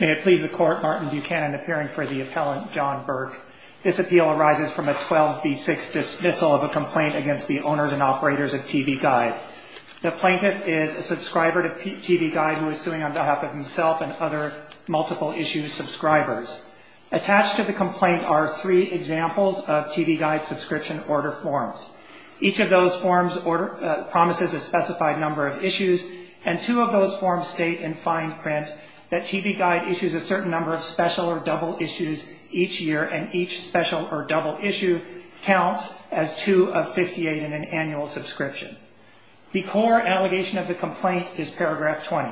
May it please the Court, Martin Buchanan appearing for the appellant, John Burke. This appeal arises from a 12B6 dismissal of a complaint against the owners and operators of TV Guide. The plaintiff is a subscriber to TV Guide who is suing on behalf of himself and other multiple-issue subscribers. Attached to the complaint are three examples of TV Guide subscription order forms. Each of those forms promises a specified number of issues, and two of those forms state in fine print that TV Guide issues a certain number of special or double issues each year and each special or double issue counts as two of 58 in an annual subscription. The core allegation of the complaint is paragraph 20.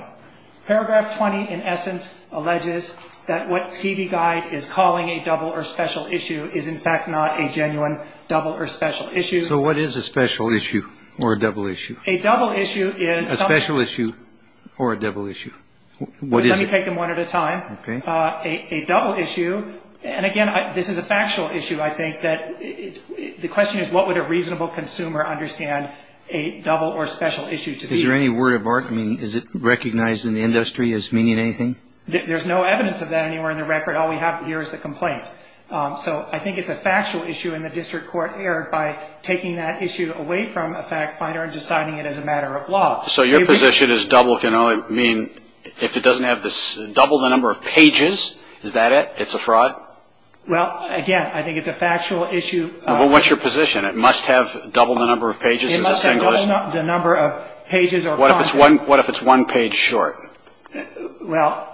Paragraph 20 in essence alleges that what TV Guide is calling a double or special issue is in fact not a genuine double or special issue. So what is a special issue or a double issue? A double issue is... A special issue or a double issue. What is it? Let me take them one at a time. Okay. A double issue, and again this is a factual issue I think, that the question is what would a reasonable consumer understand a double or special issue to be? Is there any word of art? I mean is it recognized in the industry as meaning anything? There's no evidence of that anywhere in the record. All we have here is the complaint. So I think it's a factual issue and the district court erred by taking that issue away from a fact finder and deciding it as a matter of law. So your position is double can only mean if it doesn't have double the number of pages, is that it? It's a fraud? Well, again, I think it's a factual issue. Well, what's your position? It must have double the number of pages or the single issue? It must have double the number of pages or content. What if it's one page short? Well...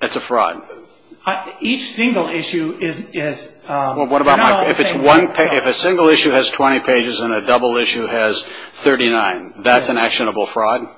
It's a fraud. Each single issue is... If a single issue has 20 pages and a double issue has 39, that's an actionable fraud?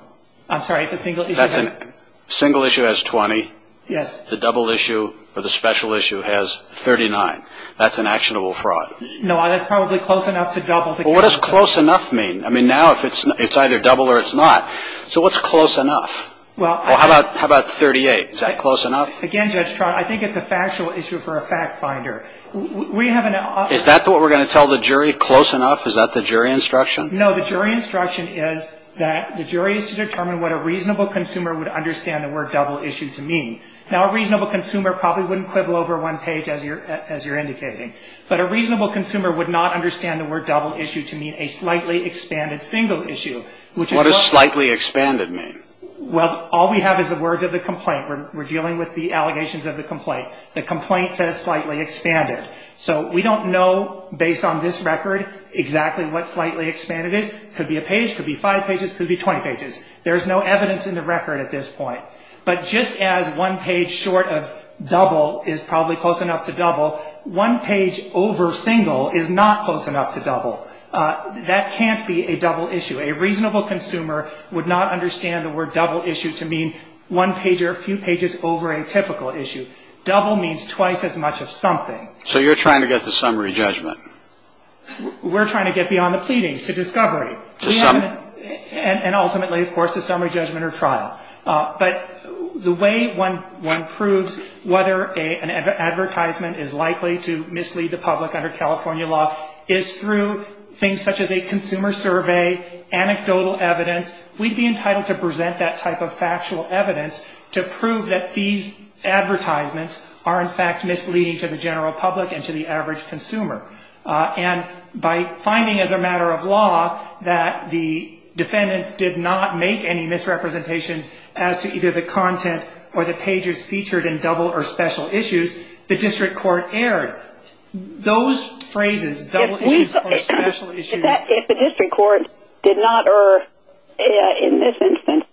I'm sorry, if a single issue has... If a single issue has 20, the double issue or the special issue has 39, that's an actionable fraud? No, that's probably close enough to double. Well, what does close enough mean? I mean now it's either double or it's not. So what's close enough? How about 38? Is that close enough? Again, Judge Trott, I think it's a factual issue for a fact finder. We have an... Is that what we're going to tell the jury, close enough? Is that the jury instruction? No, the jury instruction is that the jury is to determine what a reasonable consumer would understand the word double issue to mean. Now, a reasonable consumer probably wouldn't quibble over one page, as you're indicating. But a reasonable consumer would not understand the word double issue to mean a slightly expanded single issue, which is... What does slightly expanded mean? Well, all we have is the words of the complaint. We're dealing with the allegations of the complaint. The complaint says slightly expanded. So we don't know, based on this record, exactly what slightly expanded is. Could be a page, could be five pages, could be 20 pages. There's no evidence in the record at this point. But just as one page short of double is probably close enough to double, one page over single is not close enough to double. That can't be a double issue. A reasonable consumer would not understand the word double issue to mean one page or a few pages over a typical issue. Double means twice as much of something. So you're trying to get to summary judgment. We're trying to get beyond the pleadings to discovery. To summary. And ultimately, of course, to summary judgment or trial. But the way one proves whether an advertisement is likely to mislead the public under California law is through things such as a consumer survey, anecdotal evidence. We'd be entitled to present that type of factual evidence to prove that these advertisements are, in fact, misleading to the general public and to the average consumer. And by finding as a matter of law that the defendants did not make any misrepresentations as to either the content or the pages featured in double or special issues, the district court erred. Those phrases, double issues or special issues. If the district court did not err in this instance,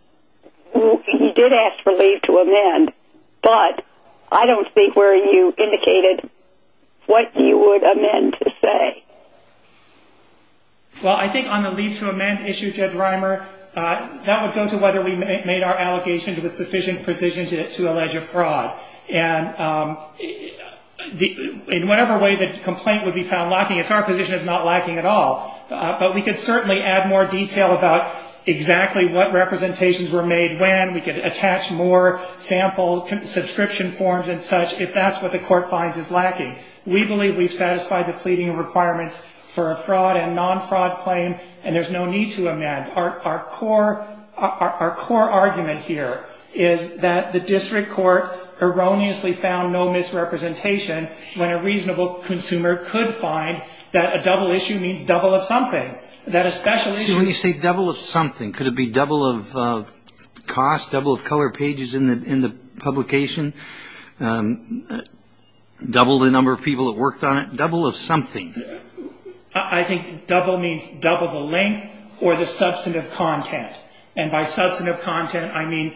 you did ask for leave to amend. But I don't think where you indicated what you would amend to say. Well, I think on the leave to amend issue, Judge Reimer, that would go to whether we made our allegations with sufficient precision to allege a fraud. And in whatever way the complaint would be found lacking, it's our position it's not lacking at all. But we could certainly add more detail about exactly what representations were made when. We could attach more sample subscription forms and such if that's what the court finds is lacking. We believe we've satisfied the pleading requirements for a fraud and non-fraud claim. And there's no need to amend. Our core argument here is that the district court erroneously found no misrepresentation when a reasonable consumer could find that a double issue means double of something. That a special issue. See, when you say double of something, could it be double of cost? Double of color pages in the publication? Double the number of people that worked on it? Double of something? I think double means double the length or the substantive content. And by substantive content, I mean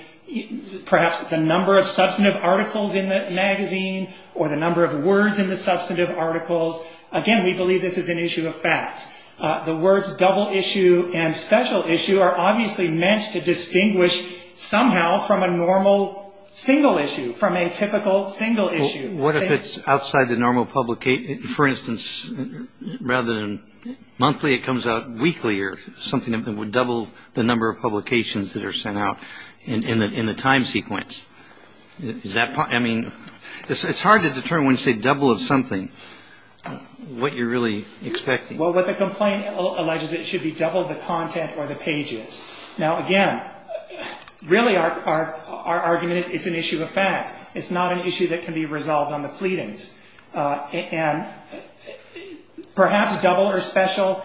perhaps the number of substantive articles in the magazine or the number of words in the substantive articles. Again, we believe this is an issue of fact. The words double issue and special issue are obviously meant to distinguish somehow from a normal single issue, from a typical single issue. What if it's outside the normal publication? For instance, rather than monthly, it comes out weekly or something that would double the number of publications that are sent out in the time sequence. I mean, it's hard to determine when you say double of something what you're really expecting. Well, what the complaint alleges, it should be double the content or the pages. Now, again, really our argument is it's an issue of fact. It's not an issue that can be resolved on the pleadings. And perhaps double or special,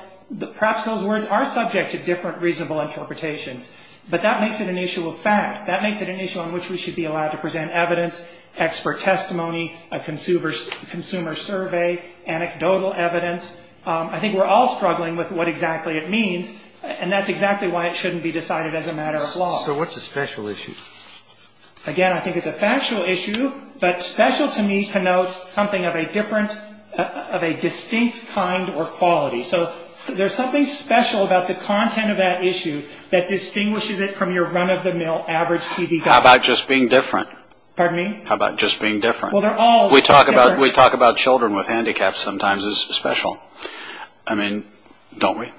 perhaps those words are subject to different reasonable interpretations. But that makes it an issue of fact. That makes it an issue on which we should be allowed to present evidence, expert testimony, a consumer survey, anecdotal evidence. I think we're all struggling with what exactly it means, and that's exactly why it shouldn't be decided as a matter of law. So what's a special issue? Again, I think it's a factual issue, but special to me connotes something of a distinct kind or quality. So there's something special about the content of that issue that distinguishes it from your run-of-the-mill average TV guide. How about just being different? Pardon me? How about just being different? Well, they're all together. We talk about children with handicaps sometimes as special. I mean, don't we?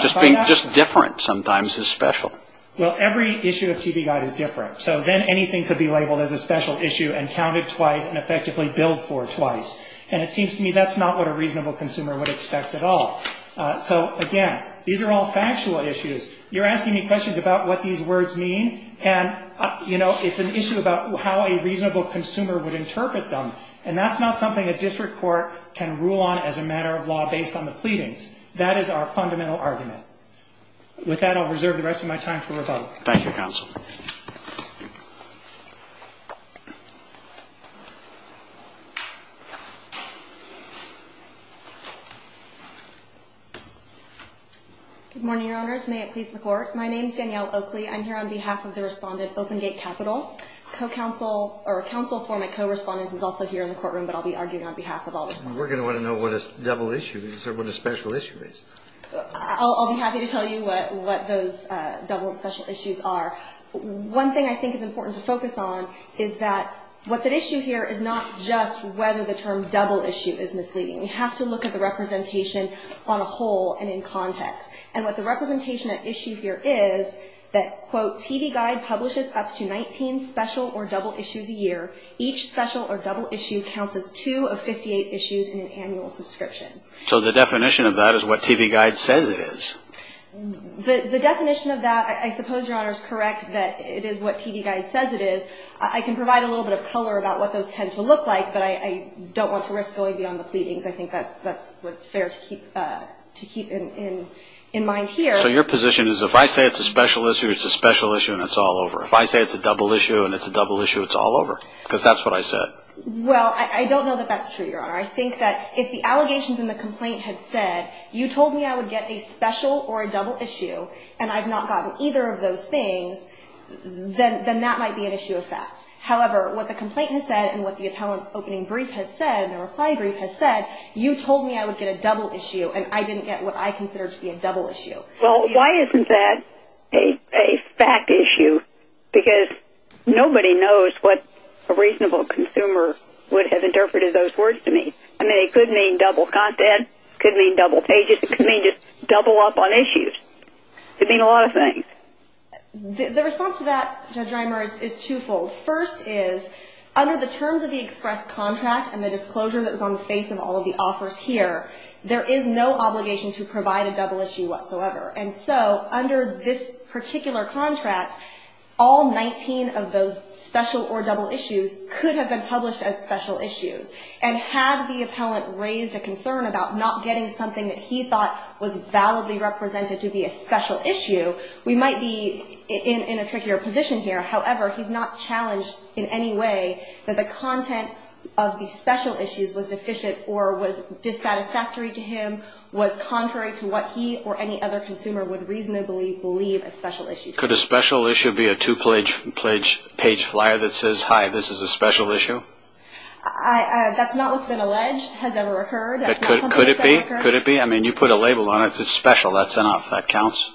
Just being different sometimes is special. Well, every issue of TV guide is different. So then anything could be labeled as a special issue and counted twice and effectively billed for twice. And it seems to me that's not what a reasonable consumer would expect at all. So, again, these are all factual issues. You're asking me questions about what these words mean, and, you know, it's an issue about how a reasonable consumer would interpret them. And that's not something a district court can rule on as a matter of law based on the pleadings. That is our fundamental argument. With that, I'll reserve the rest of my time for rebuttal. Thank you, Counsel. Good morning, Your Honors. May it please the Court. My name is Danielle Oakley. I'm here on behalf of the respondent, Open Gate Capital. A counsel for my co-respondent is also here in the courtroom, but I'll be arguing on behalf of all the respondents. We're going to want to know what a double issue is or what a special issue is. I'll be happy to tell you what those double and special issues are. One thing I think is important to focus on is that what's at issue here is not just whether the term double issue is misleading. We have to look at the representation on a whole and in context. And what the representation at issue here is that, quote, TV Guide publishes up to 19 special or double issues a year. Each special or double issue counts as two of 58 issues in an annual subscription. So the definition of that is what TV Guide says it is. The definition of that, I suppose, Your Honor, is correct that it is what TV Guide says it is. I can provide a little bit of color about what those tend to look like, but I don't want to risk going beyond the pleadings. I think that's what's fair to keep in mind here. So your position is if I say it's a special issue, it's a special issue and it's all over. If I say it's a double issue and it's a double issue, it's all over because that's what I said. I think that if the allegations in the complaint had said you told me I would get a special or a double issue and I've not gotten either of those things, then that might be an issue of fact. However, what the complaint has said and what the appellant's opening brief has said, the reply brief has said, you told me I would get a double issue and I didn't get what I considered to be a double issue. Well, why isn't that a fact issue? Because nobody knows what a reasonable consumer would have interpreted those words to mean. I mean, it could mean double content. It could mean double pages. It could mean just double up on issues. It could mean a lot of things. The response to that, Judge Reimer, is twofold. First is under the terms of the express contract and the disclosure that was on the face of all of the offers here, there is no obligation to provide a double issue whatsoever. And so under this particular contract, all 19 of those special or double issues could have been published as special issues. And had the appellant raised a concern about not getting something that he thought was validly represented to be a special issue, we might be in a trickier position here. However, he's not challenged in any way that the content of the special issues was deficient or was dissatisfactory to him, was contrary to what he or any other consumer would reasonably believe a special issue to be. Could a special issue be a two-page flyer that says, hi, this is a special issue? That's not what's been alleged has ever occurred. Could it be? Could it be? I mean, you put a label on it that's special. That's enough. That counts.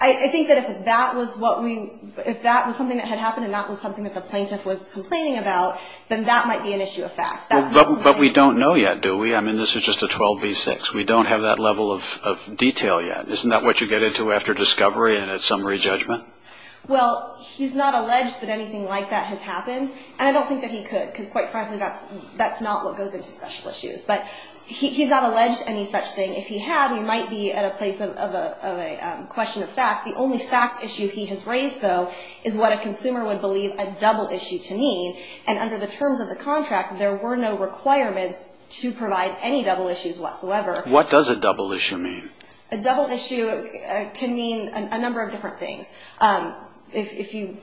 I think that if that was something that had happened and that was something that the plaintiff was complaining about, then that might be an issue of fact. But we don't know yet, do we? I mean, this is just a 12B6. We don't have that level of detail yet. Isn't that what you get into after discovery and at summary judgment? Well, he's not alleged that anything like that has happened. And I don't think that he could because, quite frankly, that's not what goes into special issues. But he's not alleged any such thing. If he had, we might be at a place of a question of fact. The only fact issue he has raised, though, is what a consumer would believe a double issue to mean. And under the terms of the contract, there were no requirements to provide any double issues whatsoever. What does a double issue mean? A double issue can mean a number of different things. If you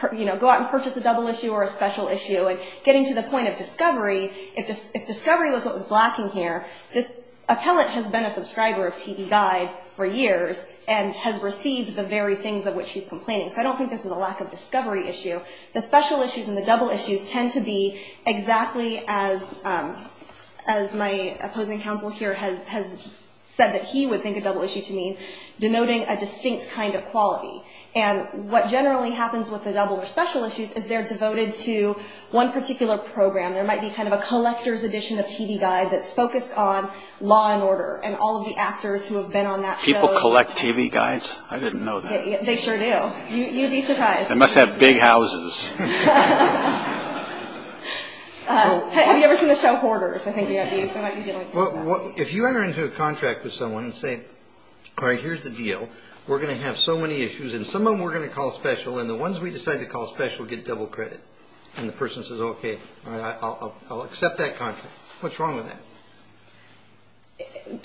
go out and purchase a double issue or a special issue, getting to the point of discovery, if discovery was what was lacking here, this appellant has been a subscriber of TV Guide for years and has received the very things of which he's complaining. So I don't think this is a lack of discovery issue. The special issues and the double issues tend to be exactly as my opposing counsel here has said that he would think a double issue to mean, denoting a distinct kind of quality. And what generally happens with the double or special issues is they're devoted to one particular program. There might be kind of a collector's edition of TV Guide that's focused on law and order and all of the actors who have been on that show. People collect TV Guides? I didn't know that. They sure do. You'd be surprised. They must have big houses. Have you ever seen the show Hoarders? If you enter into a contract with someone and say, all right, here's the deal. We're going to have so many issues, and some of them we're going to call special, and the ones we decide to call special get double credit. And the person says, okay, I'll accept that contract. What's wrong with that?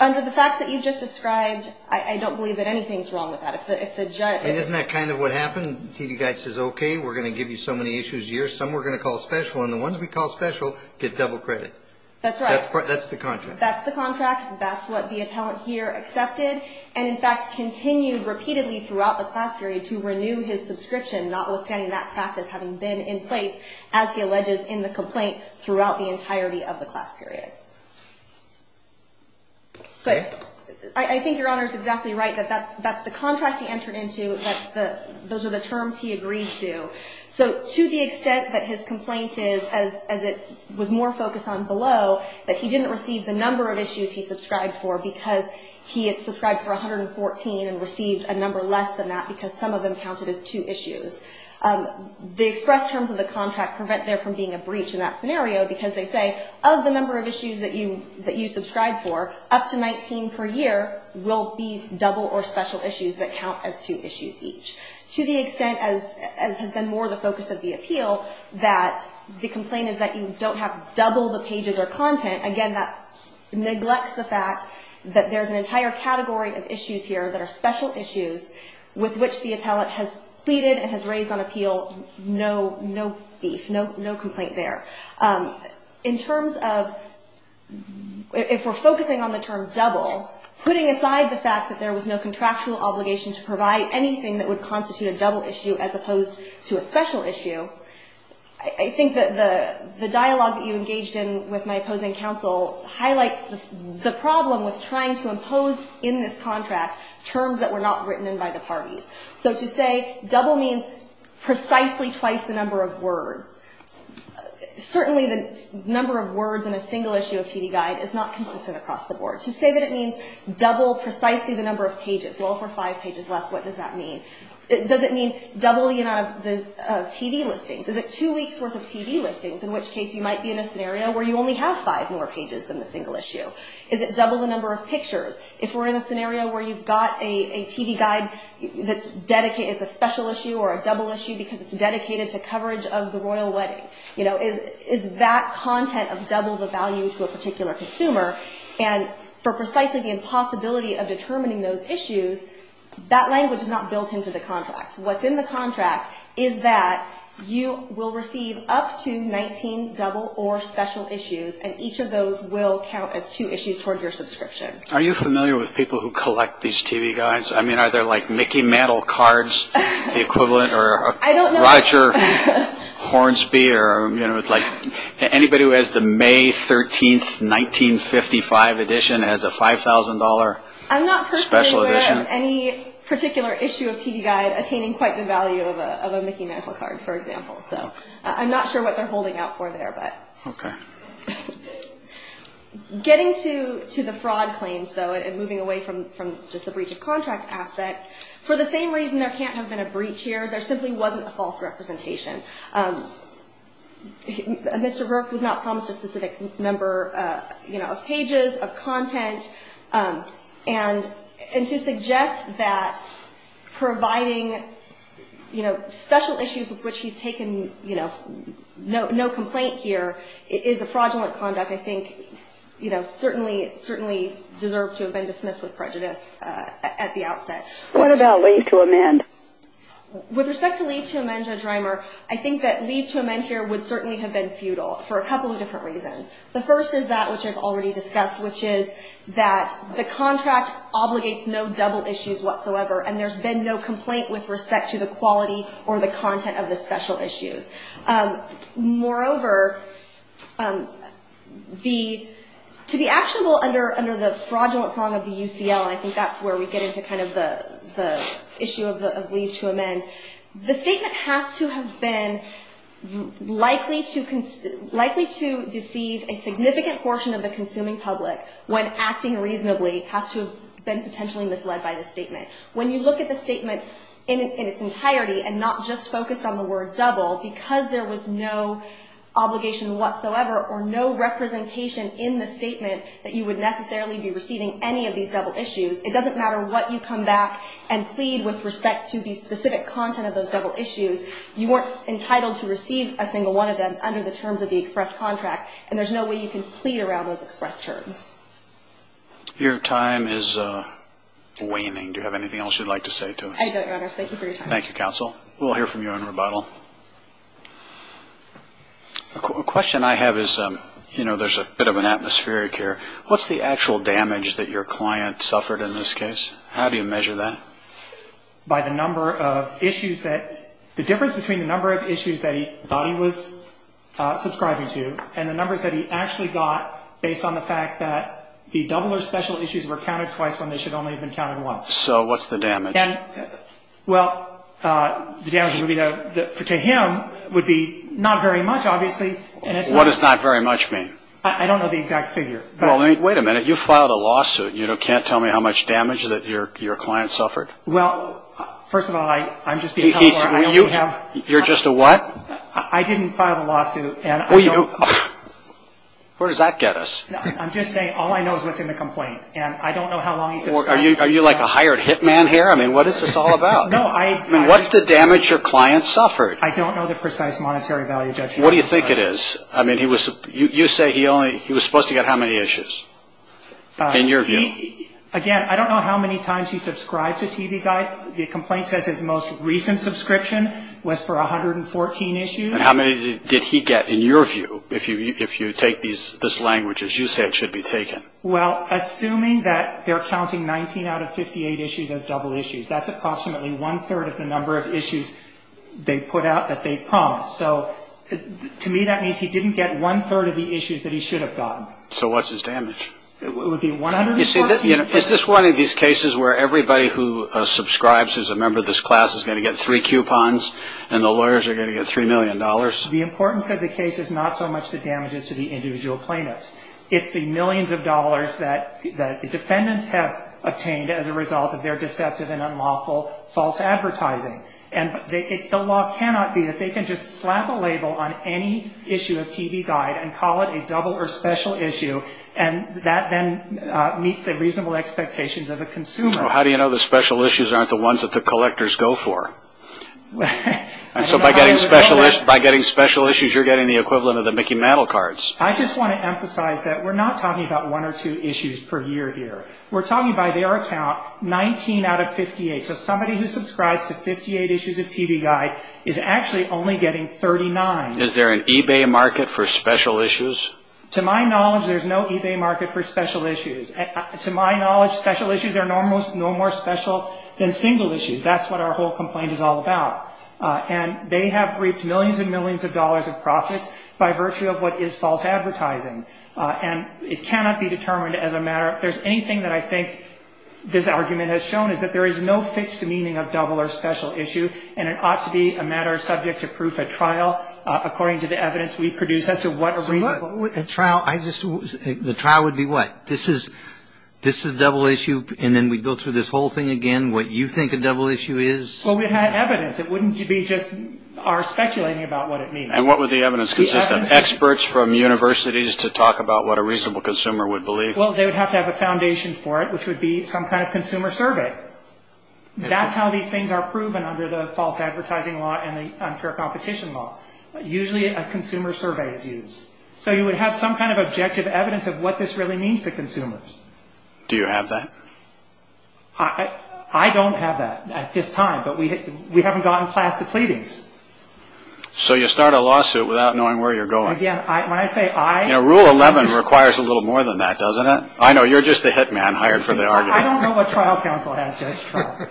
Under the facts that you've just described, I don't believe that anything's wrong with that. And isn't that kind of what happened? TV Guide says, okay, we're going to give you so many issues a year. Some we're going to call special, and the ones we call special get double credit. That's right. That's the contract. That's the contract. That's what the appellant here accepted and, in fact, continued repeatedly throughout the class period to renew his subscription, notwithstanding that practice having been in place, as he alleges in the complaint throughout the entirety of the class period. I think Your Honor is exactly right. That's the contract he entered into. Those are the terms he agreed to. So to the extent that his complaint is, as it was more focused on below, that he didn't receive the number of issues he subscribed for, because he had subscribed for 114 and received a number less than that, because some of them counted as two issues, the express terms of the contract prevent there from being a breach in that scenario because they say, of the number of issues that you subscribe for, up to 19 per year will be double or special issues that count as two issues each. To the extent, as has been more the focus of the appeal, that the complaint is that you don't have double the pages or content, again, that neglects the fact that there's an entire category of issues here that are special issues with which the appellant has pleaded and has raised on appeal no beef, no complaint there. In terms of if we're focusing on the term double, putting aside the fact that there was no contractual obligation to provide anything that would constitute a double issue as opposed to a special issue, I think that the dialogue that you engaged in with my opposing counsel highlights the problem with trying to impose in this contract terms that were not written in by the parties. So to say double means precisely twice the number of words. Certainly the number of words in a single issue of TV Guide is not consistent across the board. To say that it means double precisely the number of pages, well, for five pages less, what does that mean? Does it mean double the amount of TV listings? Is it two weeks' worth of TV listings, in which case you might be in a scenario where you only have five more pages than the single issue? Is it double the number of pictures? If we're in a scenario where you've got a TV Guide that's a special issue or a double issue because it's dedicated to coverage of the royal wedding, is that content of double the value to a particular consumer? And for precisely the impossibility of determining those issues, that language is not built into the contract. What's in the contract is that you will receive up to 19 double or special issues, and each of those will count as two issues toward your subscription. Are you familiar with people who collect these TV Guides? I mean, are there like Mickey Mantle cards, the equivalent, or Roger Hornsby, or anybody who has the May 13, 1955 edition as a $5,000 special edition? I haven't heard of any particular issue of TV Guide attaining quite the value of a Mickey Mantle card, for example, so I'm not sure what they're holding out for there. Getting to the fraud claims, though, and moving away from just the breach of contract aspect, for the same reason there can't have been a breach here, there simply wasn't a false representation. Mr. Burke has not promised a specific number of pages of content, and to suggest that providing special issues of which he's taken no complaint here is a fraudulent conduct, I think certainly deserved to have been dismissed with prejudice at the outset. What about leave to amend? With respect to leave to amend, Judge Reimer, I think that leave to amend here would certainly have been futile, for a couple of different reasons. The first is that which I've already discussed, which is that the contract obligates no double issues whatsoever, and there's been no complaint with respect to the quality or the content of the special issues. Moreover, to be actionable under the fraudulent prong of the UCL, and I think that's where we get into kind of the issue of leave to amend, the statement has to have been likely to deceive a significant portion of the consuming public when acting reasonably has to have been potentially misled by the statement. When you look at the statement in its entirety and not just focus on the word double, because there was no obligation whatsoever or no representation in the statement that you would necessarily be receiving any of these double issues, it doesn't matter what you come back and plead with respect to the specific content of those double issues, you weren't entitled to receive a single one of them under the terms of the express contract, and there's no way you can plead around those express terms. Your time is waning. Do you have anything else you'd like to say to us? I don't, Your Honor. Thank you for your time. Thank you, counsel. We'll hear from you in rebuttal. A question I have is, you know, there's a bit of an atmospheric here. What's the actual damage that your client suffered in this case? How do you measure that? By the number of issues that the difference between the number of issues that he thought he was subscribing to and the numbers that he actually got based on the fact that the double or special issues were counted twice when they should only have been counted once. So what's the damage? Well, the damage to him would be not very much, obviously. What does not very much mean? I don't know the exact figure. Well, wait a minute. You filed a lawsuit. You can't tell me how much damage that your client suffered? Well, first of all, I'm just being helpful. You're just a what? I didn't file the lawsuit. Where does that get us? I'm just saying all I know is what's in the complaint, and I don't know how long he sits there. Are you like a hired hitman here? I mean, what is this all about? I mean, what's the damage your client suffered? I don't know the precise monetary value judgment. What do you think it is? I mean, you say he was supposed to get how many issues, in your view? Again, I don't know how many times he subscribed to TV Guide. The complaint says his most recent subscription was for 114 issues. And how many did he get, in your view, if you take these languages? You say it should be taken. Well, assuming that they're counting 19 out of 58 issues as double issues, that's approximately one-third of the number of issues they put out that they promised. So to me that means he didn't get one-third of the issues that he should have gotten. So what's his damage? It would be 114. Is this one of these cases where everybody who subscribes as a member of this class is going to get three coupons and the lawyers are going to get $3 million? The importance of the case is not so much the damages to the individual plaintiffs. It's the millions of dollars that the defendants have obtained as a result of their deceptive and unlawful false advertising. And the law cannot be that they can just slap a label on any issue of TV Guide and call it a double or special issue, and that then meets the reasonable expectations of a consumer. Well, how do you know the special issues aren't the ones that the collectors go for? And so by getting special issues, you're getting the equivalent of the Mickey Mantle cards. I just want to emphasize that we're not talking about one or two issues per year here. We're talking, by their account, 19 out of 58. So somebody who subscribes to 58 issues of TV Guide is actually only getting 39. Is there an eBay market for special issues? To my knowledge, there's no eBay market for special issues. To my knowledge, special issues are no more special than single issues. That's what our whole complaint is all about. And they have reaped millions and millions of dollars of profits by virtue of what is false advertising. And it cannot be determined as a matter of if there's anything that I think this argument has shown is that there is no fixed meaning of double or special issue, and it ought to be a matter subject to proof at trial according to the evidence we produce as to what a reasonable. At trial, the trial would be what? This is double issue, and then we go through this whole thing again, what you think a double issue is? Well, we have evidence. It wouldn't be just our speculating about what it means. And what would the evidence consist of? Experts from universities to talk about what a reasonable consumer would believe? Well, they would have to have a foundation for it, which would be some kind of consumer survey. That's how these things are proven under the false advertising law and the unfair competition law. Usually, a consumer survey is used. So you would have some kind of objective evidence of what this really means to consumers. Do you have that? I don't have that at this time, but we haven't gotten past the pleadings. So you start a lawsuit without knowing where you're going. Again, when I say I. Rule 11 requires a little more than that, doesn't it? I know, you're just the hit man hired for the argument. I don't know what trial counsel has judged trial.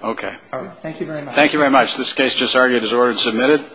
Okay. Thank you very much. Thank you very much. This case just argued is ordered and submitted.